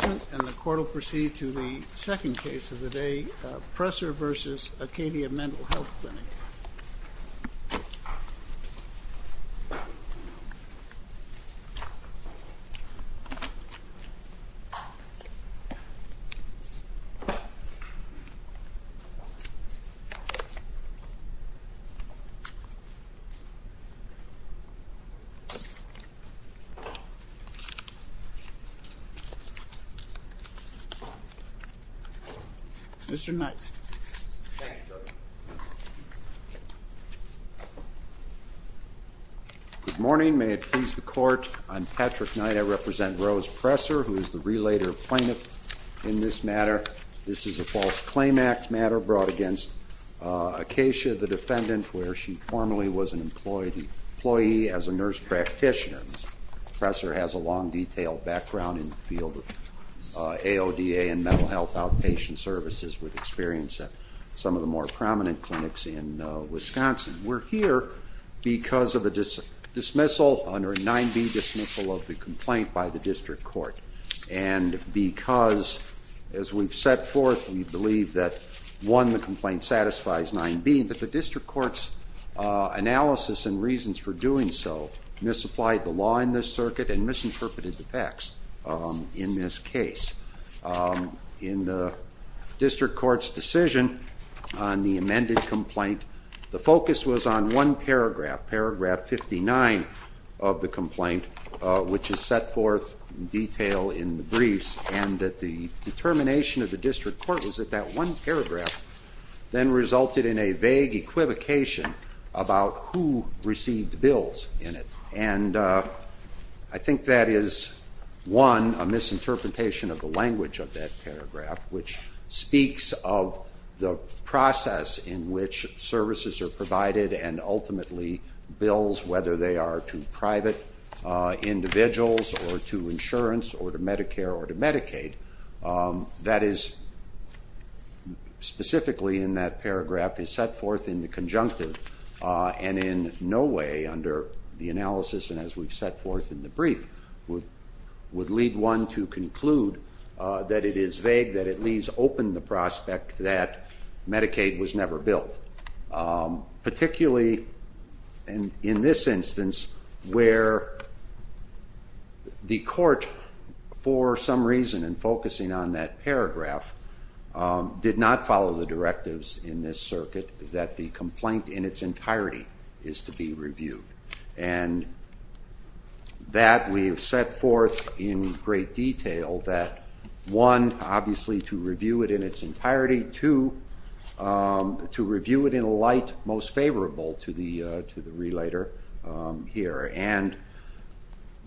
And the court will proceed to the second case of the day, Presser v. Acacia Mental Health Clinic. Mr. Knight. Thank you, Judge. Good morning. May it please the court, I'm Patrick Knight. I represent Rose Presser, who is the relator of plaintiff in this matter. This is a false claim act matter brought against Acacia, the defendant, where she formerly was an employee as a nurse practitioner. Mr. Presser has a long, detailed background in the field of AODA and mental health outpatient services with experience at some of the more prominent clinics in Wisconsin. We're here because of a dismissal under a 9b dismissal of the complaint by the district court. And because, as we've set forth, we believe that, one, the complaint satisfies 9b, but the district court's analysis and reasons for doing so misapplied the law in this circuit and misinterpreted the facts in this case. In the district court's decision on the amended complaint, the focus was on one paragraph, paragraph 59 of the complaint, which is set forth in detail in the briefs, and that the determination of the district court was that that one paragraph then resulted in a vague equivocation about who received bills in it. And I think that is, one, a misinterpretation of the language of that paragraph, which speaks of the process in which services are provided and ultimately bills, whether they are to private individuals or to insurance or to Medicare or to Medicaid. That is, specifically in that paragraph, is set forth in the conjunctive and in no way, under the analysis and as we've set forth in the brief, would lead one to conclude that it is vague, that it leaves open the prospect that Medicaid was never billed. Particularly in this instance, where the court, for some reason in focusing on that paragraph, did not follow the directives in this circuit that the complaint in its entirety is to be reviewed. And that we have set forth in great detail that, one, obviously to review it in its entirety, two, to review it in a light most favorable to the relator here. And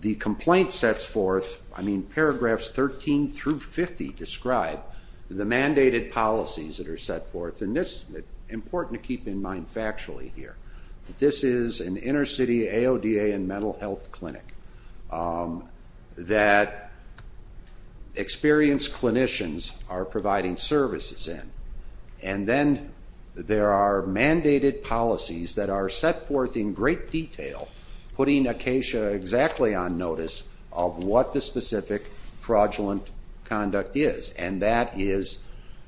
the complaint sets forth, I mean, paragraphs 13 through 50 describe the mandated policies that are set forth. And this is important to keep in mind factually here. This is an inner city AODA and mental health clinic that experienced clinicians are providing services in. And then there are mandated policies that are set forth in great detail, putting Acacia exactly on notice of what the specific fraudulent conduct is. And that is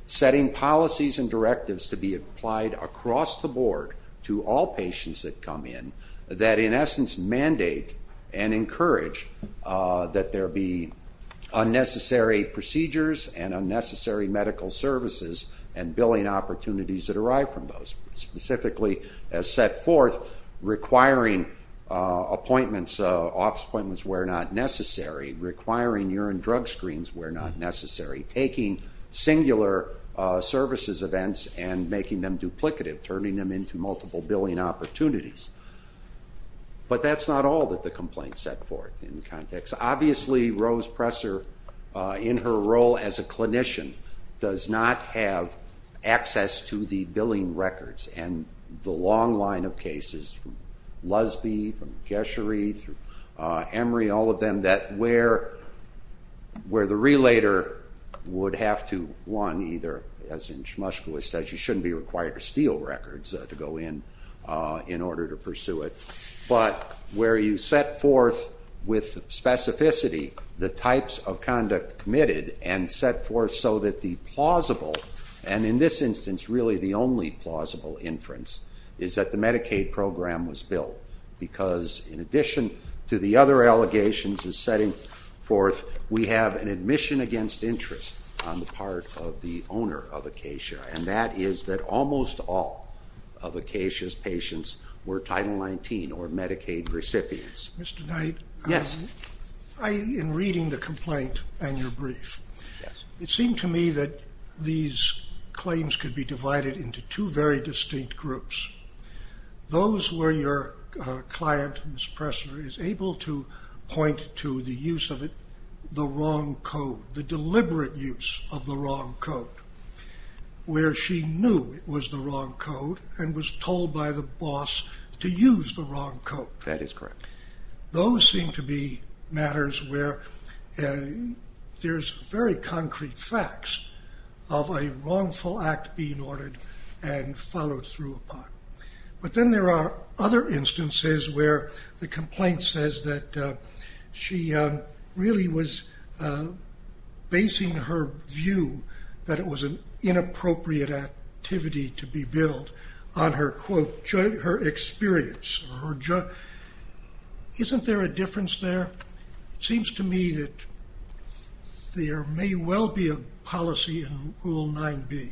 setting policies and directives to be applied across the board to all patients that come in, that in essence mandate and encourage that there be unnecessary procedures and unnecessary medical services and billing opportunities that arrive from those. Specifically, as set forth, requiring appointments, office appointments where not necessary, requiring urine drug screens where not necessary, taking singular services events and making them duplicative, turning them into multiple billing opportunities. But that's not all that the complaint set forth in the context. Obviously, Rose Presser, in her role as a clinician, does not have access to the billing records and the long line of cases, from Lusby, from Keshery, through Emory, all of them, that where the relator would have to, one, either, as in Shmushka said, you shouldn't be required to steal records to go in in order to pursue it. But where you set forth with specificity the types of conduct committed and set forth so that the plausible, and in this instance really the only plausible inference, is that the Medicaid program was billed. Because in addition to the other allegations of setting forth, we have an admission against interest on the part of the owner of Acacia. And that is that almost all of Acacia's patients were Title 19 or Medicaid recipients. Mr. Knight, in reading the complaint and your brief, it seemed to me that these claims could be divided into two very distinct groups. Those where your client, Ms. Presser, is able to point to the use of the wrong code, the deliberate use of the wrong code. Where she knew it was the wrong code and was told by the boss to use the wrong code. That is correct. Those seem to be matters where there's very concrete facts of a wrongful act being ordered and followed through upon. But then there are other instances where the complaint says that she really was basing her view that it was an inappropriate activity to be billed on her experience. Isn't there a difference there? It seems to me that there may well be a policy in Rule 9B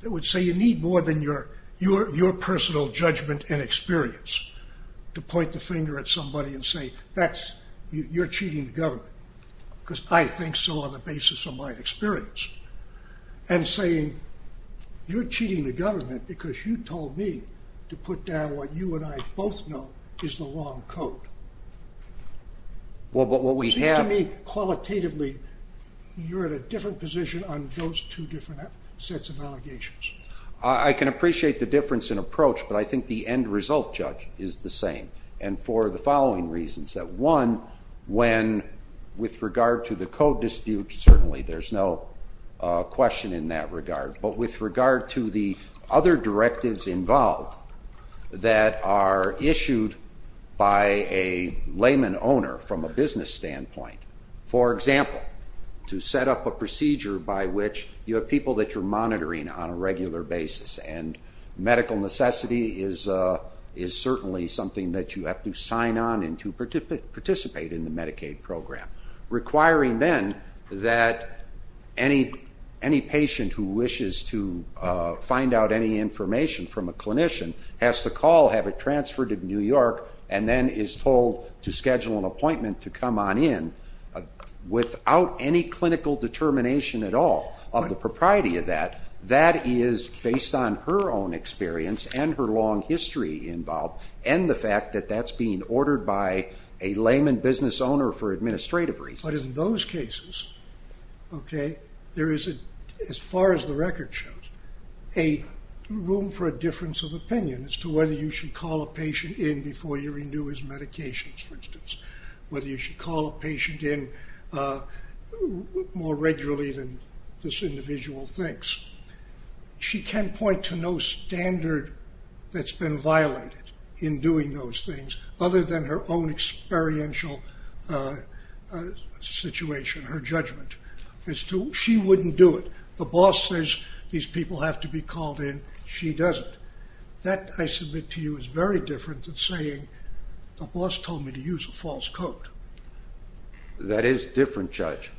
that would say you need more than your personal judgment and experience. To point the finger at somebody and say, you're cheating the government. Because I think so on the basis of my experience. And saying, you're cheating the government because you told me to put down what you and I both know is the wrong code. It seems to me, qualitatively, you're at a different position on those two different sets of allegations. I can appreciate the difference in approach, but I think the end result, Judge, is the same. And for the following reasons. One, with regard to the code dispute, certainly there's no question in that regard. But with regard to the other directives involved that are issued by a layman owner from a business standpoint. For example, to set up a procedure by which you have people that you're monitoring on a regular basis. And medical necessity is certainly something that you have to sign on and to participate in the Medicaid program. Requiring then that any patient who wishes to find out any information from a clinician has to call, have it transferred to New York, and then is told to schedule an appointment to come on in without any clinical determination at all of the propriety of that. That is based on her own experience and her long history involved, and the fact that that's being ordered by a layman business owner for administrative reasons. But in those cases, as far as the record shows, there is room for a difference of opinion as to whether you should call a patient in before you renew his medications, for instance. Whether you should call a patient in more regularly than this individual thinks. She can point to no standard that's been violated in doing those things, other than her own experiential situation, her judgment, as to she wouldn't do it. The boss says these people have to be called in, she doesn't. That, I submit to you, is very different than saying the boss told me to use a false code. That is different, Judge.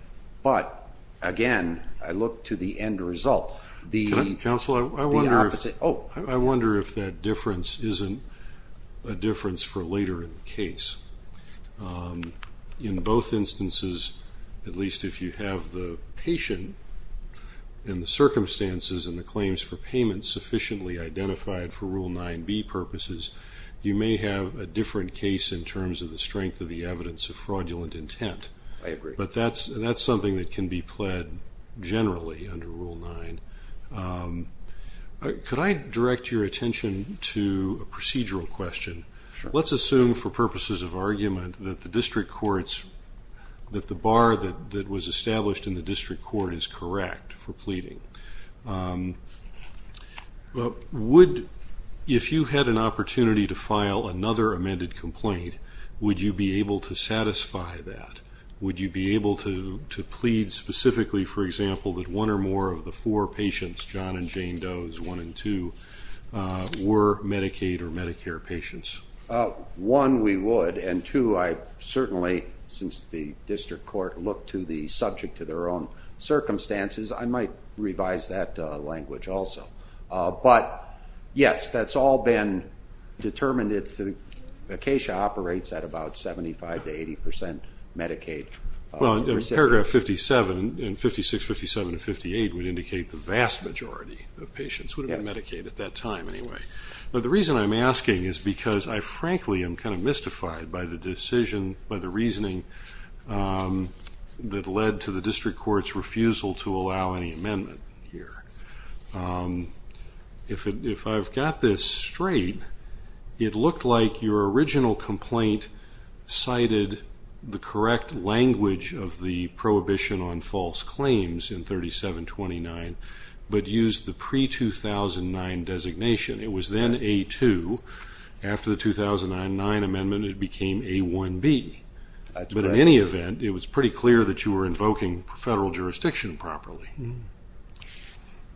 But, again, I look to the end result. Counselor, I wonder if that difference isn't a difference for later in the case. In both instances, at least if you have the patient, and the circumstances and the claims for payment sufficiently identified for Rule 9b purposes, you may have a different case in terms of the strength of the evidence of fraudulent intent. I agree. But that's something that can be pled generally under Rule 9. Could I direct your attention to a procedural question? Sure. Let's assume, for purposes of argument, that the district courts, that the bar that was established in the district court is correct for pleading. If you had an opportunity to file another amended complaint, would you be able to satisfy that? Would you be able to plead specifically, for example, that one or more of the four patients, John and Jane Doe as one and two, were Medicaid or Medicare patients? One, we would. And, two, I certainly, since the district court looked to the subject to their own circumstances, I might revise that language also. But, yes, that's all been determined. Acacia operates at about 75% to 80% Medicaid. Paragraph 57 and 56, 57, and 58 would indicate the vast majority of patients would have been Medicaid at that time anyway. But the reason I'm asking is because I, frankly, am kind of mystified by the decision, by the reasoning that led to the district court's refusal to allow any amendment here. If I've got this straight, it looked like your original complaint cited the correct language of the Prohibition on False Claims in 3729, but used the pre-2009 designation. It was then A-2. After the 2009 amendment, it became A-1B. But in any event, it was pretty clear that you were invoking federal jurisdiction properly.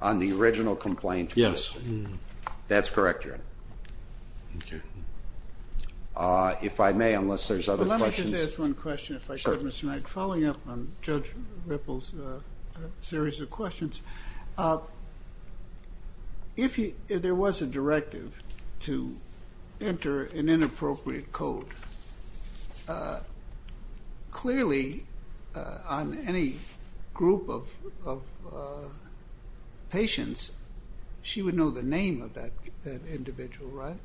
On the original complaint? Yes. That's correct, Your Honor. Okay. If I may, unless there's other questions. Let me just ask one question, if I could, Mr. Knight. Sure. Following up on Judge Ripple's series of questions, if there was a directive to enter an inappropriate code, clearly on any group of patients, she would know the name of that individual, right?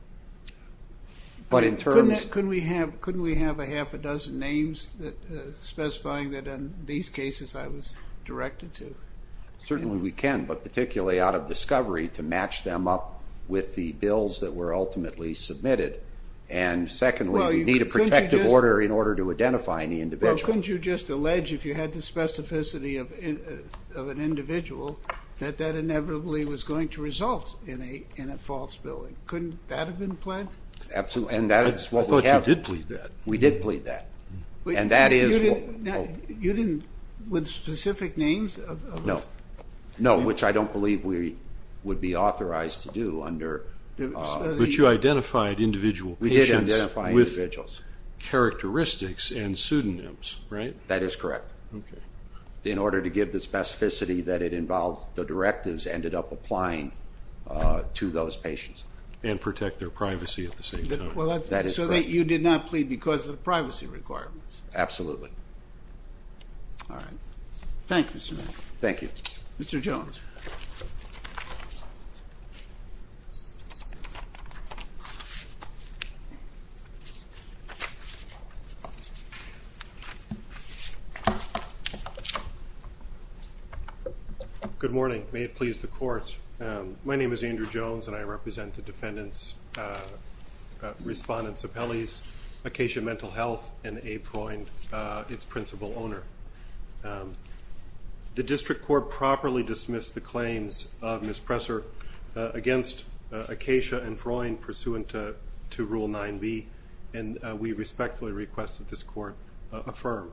But in terms... Couldn't we have a half a dozen names specifying that in these cases I was directed to? Certainly we can, but particularly out of discovery to match them up with the bills that were ultimately submitted. And secondly, we need a protective order in order to identify any individual. Couldn't you just allege, if you had the specificity of an individual, that that inevitably was going to result in a false billing? Couldn't that have been planned? Absolutely. And that is what we have. I thought you did plead that. We did plead that. And that is... You didn't, with specific names? No. No, which I don't believe we would be authorized to do under... But you identified individual patients... We did identify individuals.... with characteristics and pseudonyms, right? That is correct. Okay. In order to give the specificity that it involved, the directives ended up applying to those patients. And protect their privacy at the same time. That is correct. So you did not plead because of the privacy requirements? Absolutely. All right. Thank you, sir. Thank you. Mr. Jones. Good morning. May it please the Court. My name is Andrew Jones, and I represent the defendant's respondent's appellees, Acacia Mental Health and A. Freund, its principal owner. The District Court properly dismissed the claims of Ms. Presser against Acacia and Freund pursuant to Rule 9b. And we respectfully request that this Court affirm.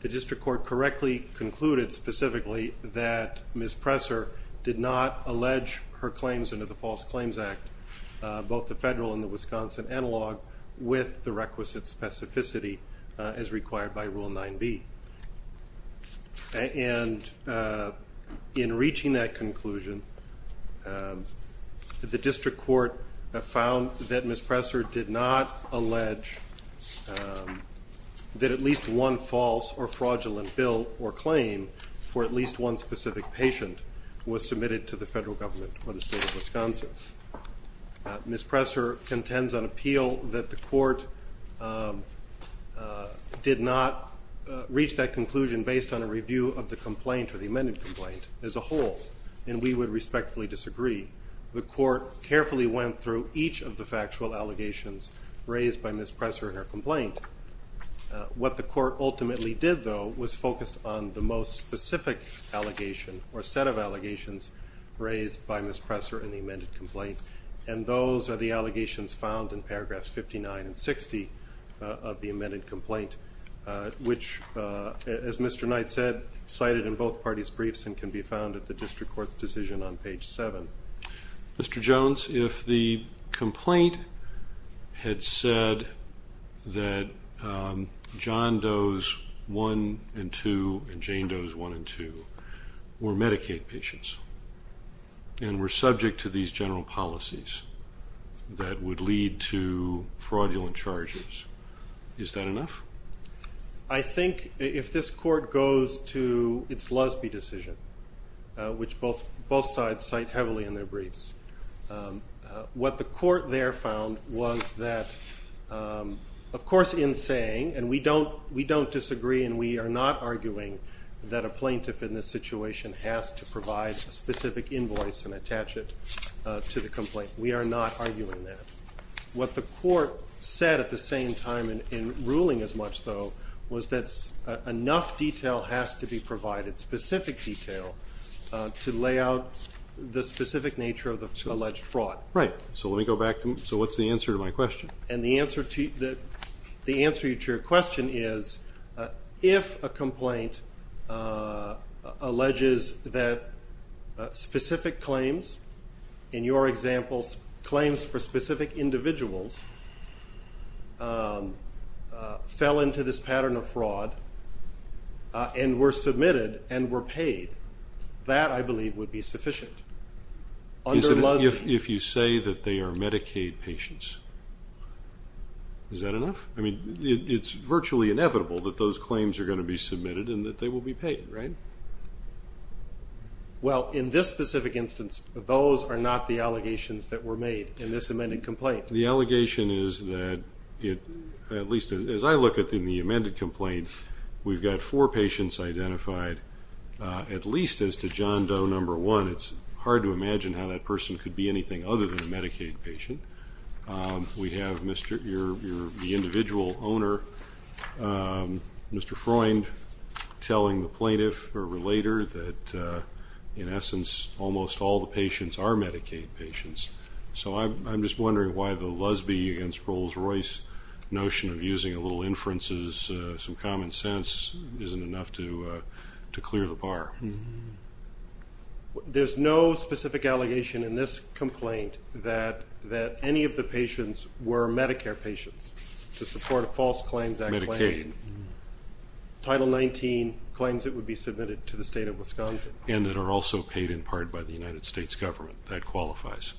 The District Court correctly concluded, specifically, that Ms. Presser did not allege her claims under the False Claims Act, both the federal and the Wisconsin analog, with the requisite specificity as required by Rule 9b. And in reaching that conclusion, the District Court found that Ms. Presser did not allege that at least one false or fraudulent bill or claim for at least one specific patient was submitted to the federal government or the state of Wisconsin. Ms. Presser contends on appeal that the Court did not reach that conclusion based on a review of the complaint or the amended complaint as a whole, and we would respectfully disagree. The Court carefully went through each of the factual allegations raised by Ms. Presser in her complaint. What the Court ultimately did, though, was focus on the most specific allegation or set of allegations raised by Ms. Presser in the amended complaint, and those are the allegations found in paragraphs 59 and 60 of the amended complaint, which, as Mr. Knight said, cited in both parties' briefs and can be found at the District Court's decision on page 7. Mr. Jones, if the complaint had said that John Doe's 1 and 2 and Jane Doe's 1 and 2 were Medicaid patients and were subject to these general policies that would lead to fraudulent charges, is that enough? I think if this Court goes to its Lusby decision, which both sides cite heavily in their briefs, what the Court there found was that, of course in saying, and we don't disagree and we are not arguing that a plaintiff in this situation has to provide a specific invoice and attach it to the complaint. We are not arguing that. What the Court said at the same time in ruling as much, though, was that enough detail has to be provided, specific detail, to lay out the specific nature of the alleged fraud. Right. So what's the answer to my question? And the answer to your question is, if a complaint alleges that specific claims, in your example, claims for specific individuals fell into this pattern of fraud and were submitted and were paid, that, I believe, would be sufficient. If you say that they are Medicaid patients, is that enough? I mean, it's virtually inevitable that those claims are going to be submitted and that they will be paid, right? Well, in this specific instance, those are not the allegations that were made in this amended complaint. The allegation is that, at least as I look at the amended complaint, we've got four patients identified, at least as to John Doe No. 1. It's hard to imagine how that person could be anything other than a Medicaid patient. We have the individual owner, Mr. Freund, telling the plaintiff or relator that, in essence, almost all the patients are Medicaid patients. So I'm just wondering why the lesbian against Rolls-Royce notion of using a little inferences, some common sense, isn't enough to clear the bar. There's no specific allegation in this complaint that any of the patients were Medicare patients, to support a False Claims Act claim. Medicaid. Title 19 claims that would be submitted to the state of Wisconsin. And that are also paid in part by the United States government. That qualifies.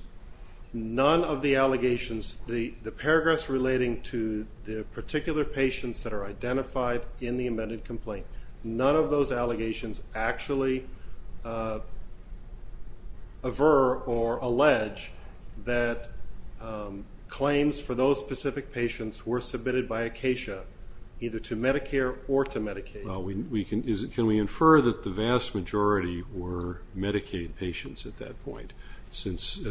None of the allegations, the paragraphs relating to the particular patients that are identified in the amended complaint, none of those allegations actually aver or allege that claims for those specific patients were submitted by Acacia, either to Medicare or to Medicaid. Can we infer that the vast majority were Medicaid patients at that point, since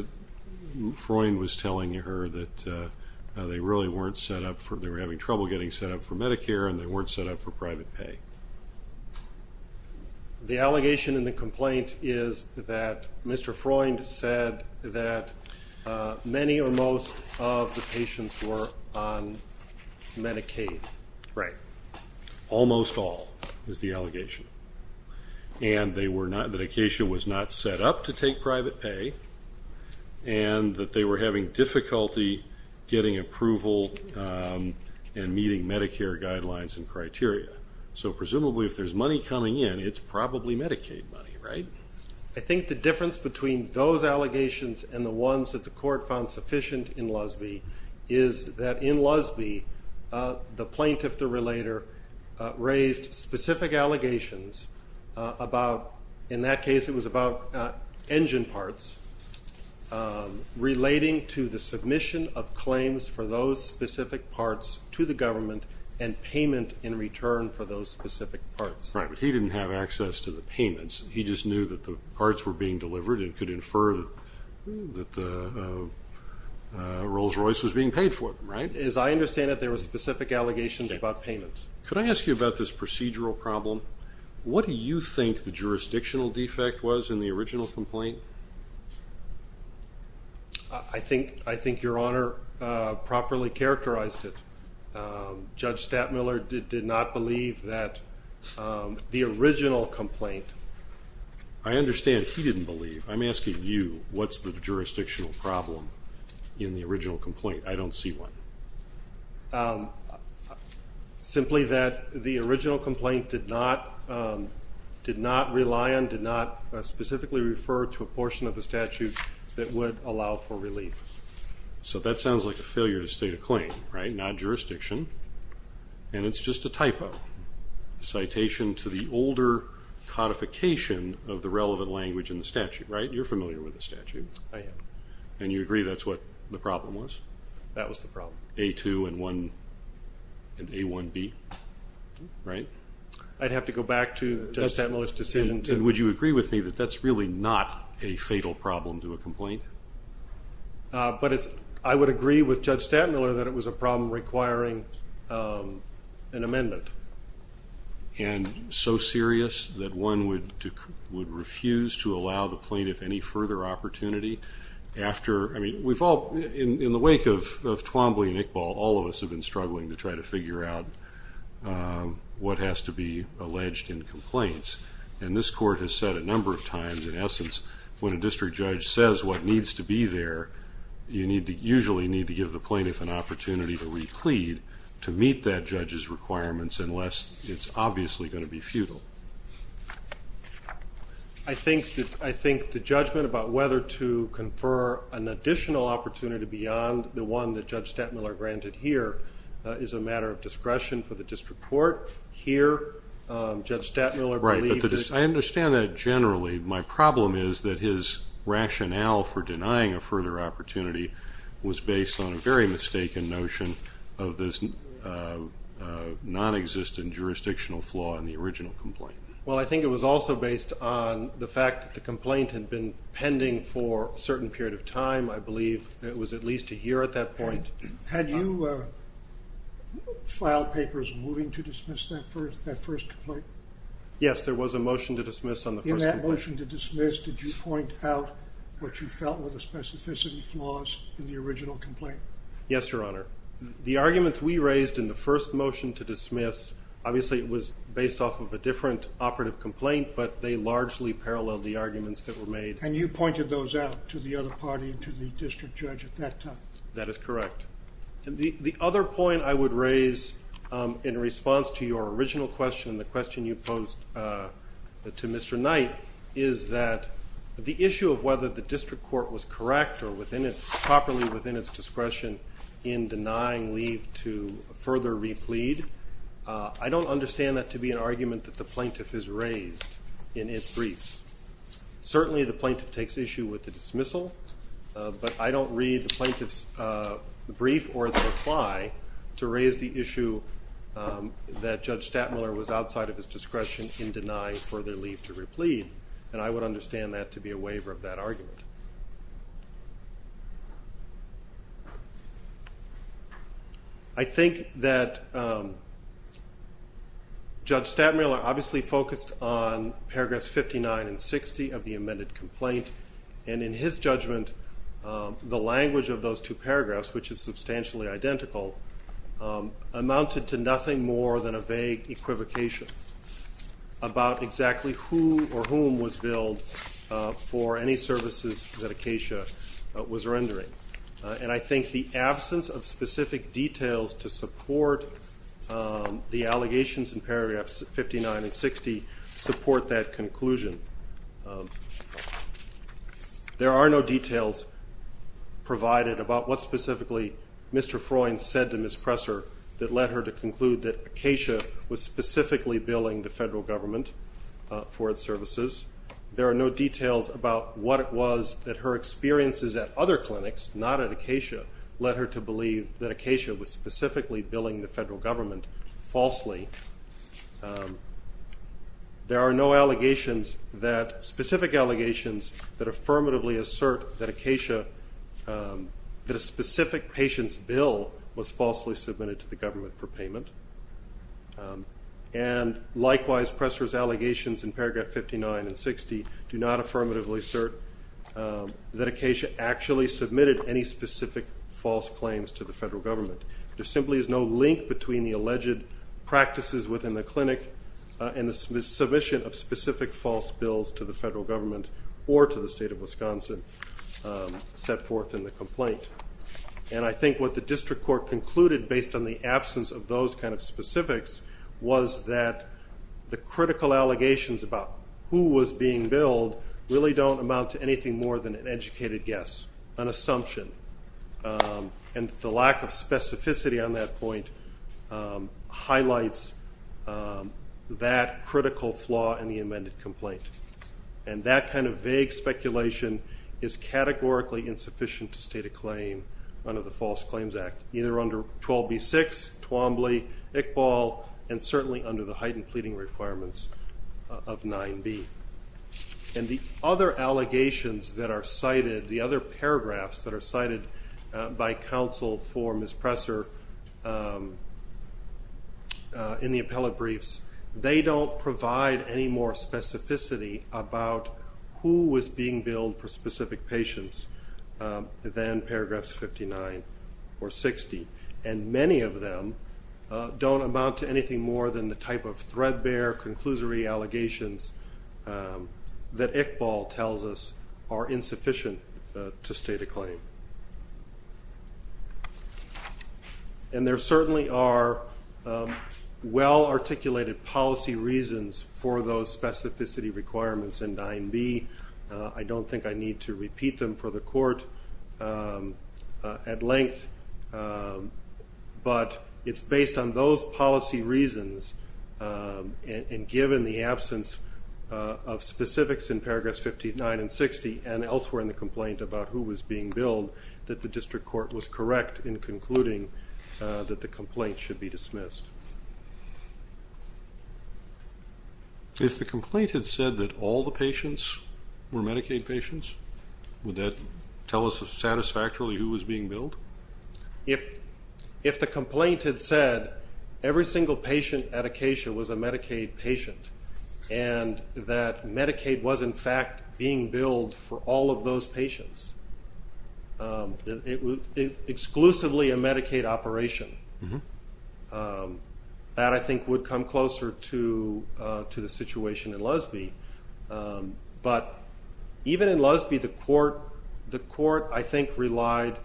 Freund was telling her that they really weren't set up for, they were having trouble getting set up for Medicare and they weren't set up for private pay? The allegation in the complaint is that Mr. Freund said that many or most of the patients were on Medicaid. Right. Almost all, is the allegation. And they were not, that Acacia was not set up to take private pay, and that they were having difficulty getting approval and meeting Medicare guidelines and criteria. So presumably if there's money coming in, it's probably Medicaid money, right? I think the difference between those allegations and the ones that the court found sufficient in Lusby, is that in Lusby, the plaintiff, the relator, raised specific allegations about, in that case it was about engine parts, relating to the submission of claims for those specific parts to the government and payment in return for those specific parts. Right, but he didn't have access to the payments. He just knew that the parts were being delivered and could infer that Rolls-Royce was being paid for them, right? As I understand it, there were specific allegations about payments. Could I ask you about this procedural problem? What do you think the jurisdictional defect was in the original complaint? I think Your Honor properly characterized it. Judge Stattmiller did not believe that the original complaint. I understand he didn't believe. I'm asking you, what's the jurisdictional problem in the original complaint? I don't see one. Simply that the original complaint did not rely on, did not specifically refer to a portion of the statute that would allow for relief. So that sounds like a failure to state a claim, right? Not jurisdiction, and it's just a typo. Citation to the older codification of the relevant language in the statute, right? You're familiar with the statute. I am. And you agree that's what the problem was? That was the problem. A2 and A1B, right? I'd have to go back to Judge Stattmiller's decision. And would you agree with me that that's really not a fatal problem to a complaint? I would agree with Judge Stattmiller that it was a problem requiring an amendment. And so serious that one would refuse to allow the plaintiff any further opportunity? I mean, in the wake of Twombly and Iqbal, all of us have been struggling to try to figure out what has to be alleged in complaints. And this court has said a number of times, in essence, when a district judge says what needs to be there, you usually need to give the plaintiff an opportunity to reclead to meet that judge's requirements unless it's obviously going to be futile. I think the judgment about whether to confer an additional opportunity beyond the one that Judge Stattmiller granted here is a matter of discretion for the district court. Here, Judge Stattmiller believed that the district court... Right, but I understand that generally. My problem is that his rationale for denying a further opportunity was based on a very mistaken notion of this nonexistent jurisdictional flaw in the original complaint. Well, I think it was also based on the fact that the complaint had been pending for a certain period of time. I believe it was at least a year at that point. Had you filed papers moving to dismiss that first complaint? Yes, there was a motion to dismiss on the first complaint. In that motion to dismiss, did you point out what you felt were the specificity flaws in the original complaint? Yes, Your Honor. The arguments we raised in the first motion to dismiss, obviously it was based off of a different operative complaint, but they largely paralleled the arguments that were made. And you pointed those out to the other party and to the district judge at that time? That is correct. The other point I would raise in response to your original question, the question you posed to Mr. Knight, is that the issue of whether the district court was correct or properly within its discretion in denying leave to further replead, I don't understand that to be an argument that the plaintiff has raised in its briefs. Certainly the plaintiff takes issue with the dismissal, but I don't read the plaintiff's brief or its reply to raise the issue that Judge Stattmiller was outside of his discretion in denying further leave to replead, and I would understand that to be a waiver of that argument. I think that Judge Stattmiller obviously focused on paragraphs 59 and 60 of the amended complaint, and in his judgment the language of those two paragraphs, which is substantially identical, amounted to nothing more than a vague equivocation about exactly who or whom was billed for any services that Acacia was rendering. And I think the absence of specific details to support the allegations in paragraphs 59 and 60 support that conclusion. There are no details provided about what specifically Mr. Freund said to Ms. Presser that led her to conclude that Acacia was specifically billing the federal government for its services. There are no details about what it was that her experiences at other clinics, not at Acacia, led her to believe that Acacia was specifically billing the federal government falsely. There are no allegations that, specific allegations that affirmatively assert that Acacia, that a specific patient's bill was falsely submitted to the government for payment. And likewise, Presser's allegations in paragraph 59 and 60 do not affirmatively assert that Acacia actually submitted any specific false claims to the federal government. There simply is no link between the alleged practices within the clinic and the submission of specific false bills to the federal government or to the state of Wisconsin set forth in the complaint. And I think what the district court concluded based on the absence of those kind of specifics was that the critical allegations about who was being billed really don't amount to anything more than an educated guess, an assumption. And the lack of specificity on that point highlights that critical flaw in the amended complaint. And that kind of vague speculation is categorically insufficient to state a claim under the False Claims Act, either under 12b-6, Twombly, Iqbal, and certainly under the heightened pleading requirements of 9b. And the other allegations that are cited, the other paragraphs that are cited by counsel for Ms. Presser in the appellate briefs, they don't provide any more specificity about who was being billed for specific patients than paragraphs 59 or 60. And many of them don't amount to anything more than the type of threadbare, conclusory allegations that Iqbal tells us are insufficient to state a claim. And there certainly are well-articulated policy reasons for those specificity requirements in 9b. I don't think I need to repeat them for the court at length, but it's based on those policy reasons, and given the absence of specifics in paragraphs 59 and 60 and elsewhere in the complaint about who was being billed, that the district court was correct in concluding that the complaint should be dismissed. If the complaint had said that all the patients were Medicaid patients, would that tell us satisfactorily who was being billed? If the complaint had said every single patient at Acacia was a Medicaid patient and that Medicaid was, in fact, being billed for all of those patients, exclusively a Medicaid operation, that, I think, would come closer to the situation in Lusby. But even in Lusby, the court, I think, relied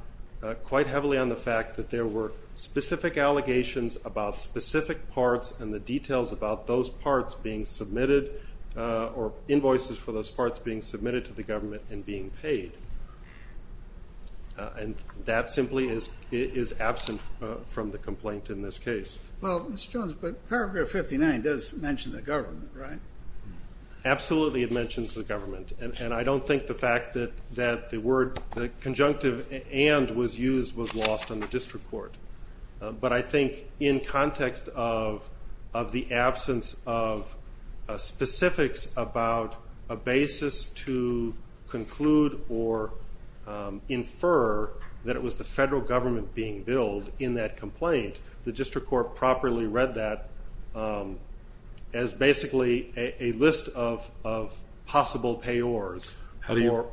quite heavily on the fact that there were specific allegations about specific parts and the details about those parts being submitted or invoices for those parts being submitted to the government and being paid. And that simply is absent from the complaint in this case. Well, Mr. Jones, paragraph 59 does mention the government, right? Absolutely it mentions the government, and I don't think the fact that the word, the conjunctive and was used was lost on the district court. But I think in context of the absence of specifics about a basis to conclude or infer that it was the federal government being billed in that complaint, the district court properly read that as basically a list of possible payors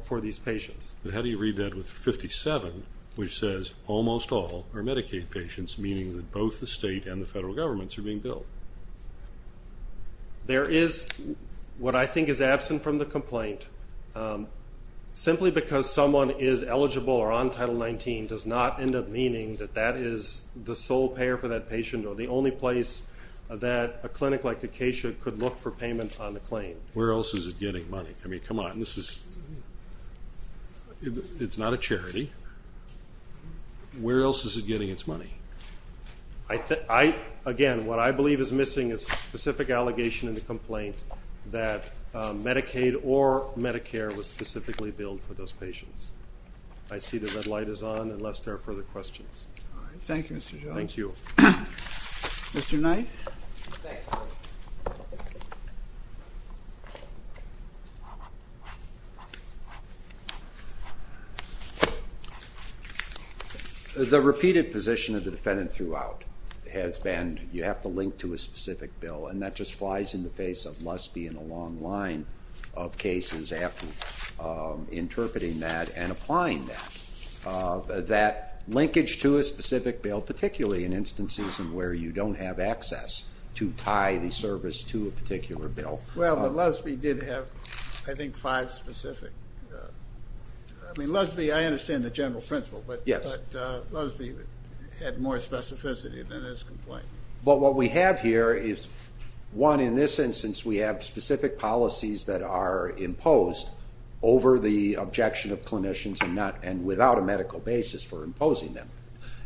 for these patients. But how do you read that with 57, which says, almost all are Medicaid patients, meaning that both the state and the federal governments are being billed? There is, what I think is absent from the complaint, simply because someone is eligible or on Title 19 does not end up meaning that that is the sole payer for that patient or the only place that a clinic like Acacia could look for payment on the claim. Where else is it getting money? I mean, come on, this is, it's not a charity. Where else is it getting its money? Again, what I believe is missing is a specific allegation in the complaint that Medicaid or Medicare was specifically billed for those patients. I see the red light is on unless there are further questions. Thank you, Mr. Jones. Thank you. Mr. Knight. The repeated position of the defendant throughout has been you have to link to a specific bill, and that just flies in the face of lust being a long line of cases after interpreting that and applying that. That linkage to a specific bill, particularly in instances where you don't have access to tie the service to a particular bill. Well, but Lusby did have, I think, five specific. I mean, Lusby, I understand the general principle, but Lusby had more specificity than his complaint. But what we have here is, one, in this instance we have specific policies that are imposed over the objection of clinicians and without a medical basis for imposing them.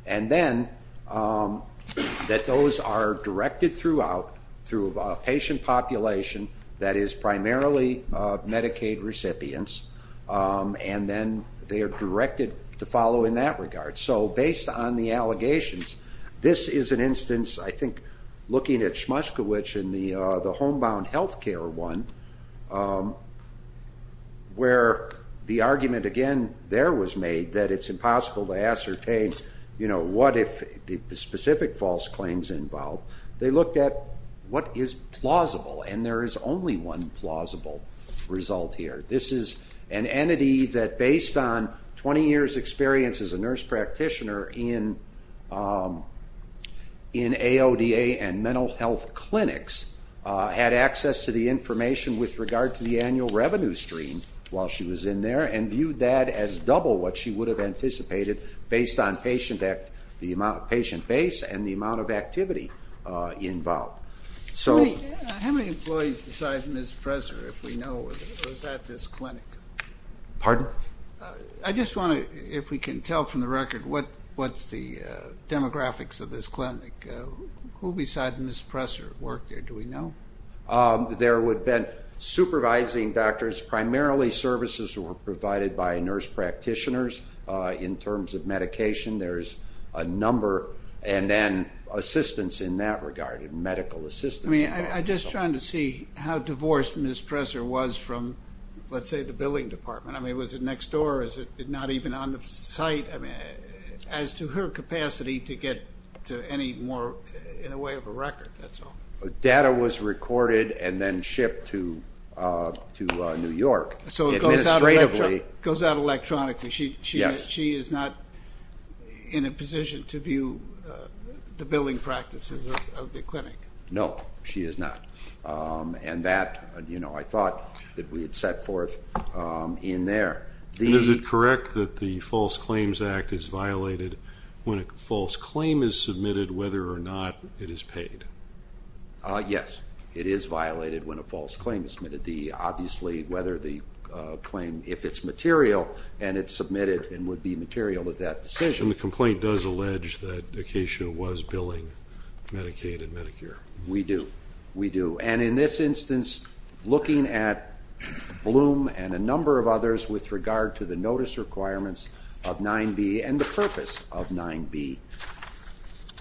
And then that those are directed throughout through a patient population that is primarily Medicaid recipients, and then they are directed to follow in that regard. So based on the allegations, this is an instance, I think, looking at Smushkiewicz in the homebound health care one where the argument, again, there was made that it's impossible to ascertain what if the specific false claims involve. They looked at what is plausible, and there is only one plausible result here. This is an entity that, based on 20 years' experience as a nurse practitioner in AODA and mental health clinics, had access to the information with regard to the annual revenue stream while she was in there and viewed that as double what she would have anticipated based on patient base and the amount of activity involved. How many employees beside Ms. Presser, if we know, was at this clinic? Pardon? I just want to, if we can tell from the record what's the demographics of this clinic. Who beside Ms. Presser worked there, do we know? There would have been supervising doctors, primarily services that were provided by nurse practitioners in terms of medication. There is a number, and then assistance in that regard, medical assistance. I'm just trying to see how divorced Ms. Presser was from, let's say, the billing department. I mean, was it next door? Is it not even on the site? I mean, as to her capacity to get to any more, in a way, of a record, that's all. Data was recorded and then shipped to New York. So it goes out electronically. Yes. She is not in a position to view the billing practices of the clinic? No, she is not. And that, you know, I thought that we had set forth in there. Is it correct that the False Claims Act is violated when a false claim is submitted, whether or not it is paid? Obviously, whether the claim, if it's material and it's submitted and would be material at that decision. And the complaint does allege that Acacia was billing Medicaid and Medicare? We do. We do. And in this instance, looking at Bloom and a number of others with regard to the notice requirements of 9B and the purpose of 9B,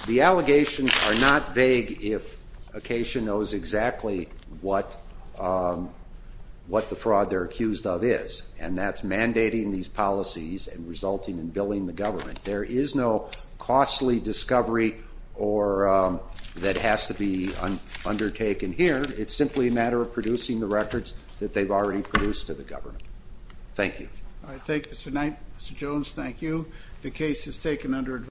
the allegations are not vague if Acacia knows exactly what the fraud they're accused of is, and that's mandating these policies and resulting in billing the government. There is no costly discovery that has to be undertaken here. It's simply a matter of producing the records that they've already produced to the government. Thank you. All right. Thank you, Mr. Knight. Mr. Jones, thank you. The case is taken under advisory.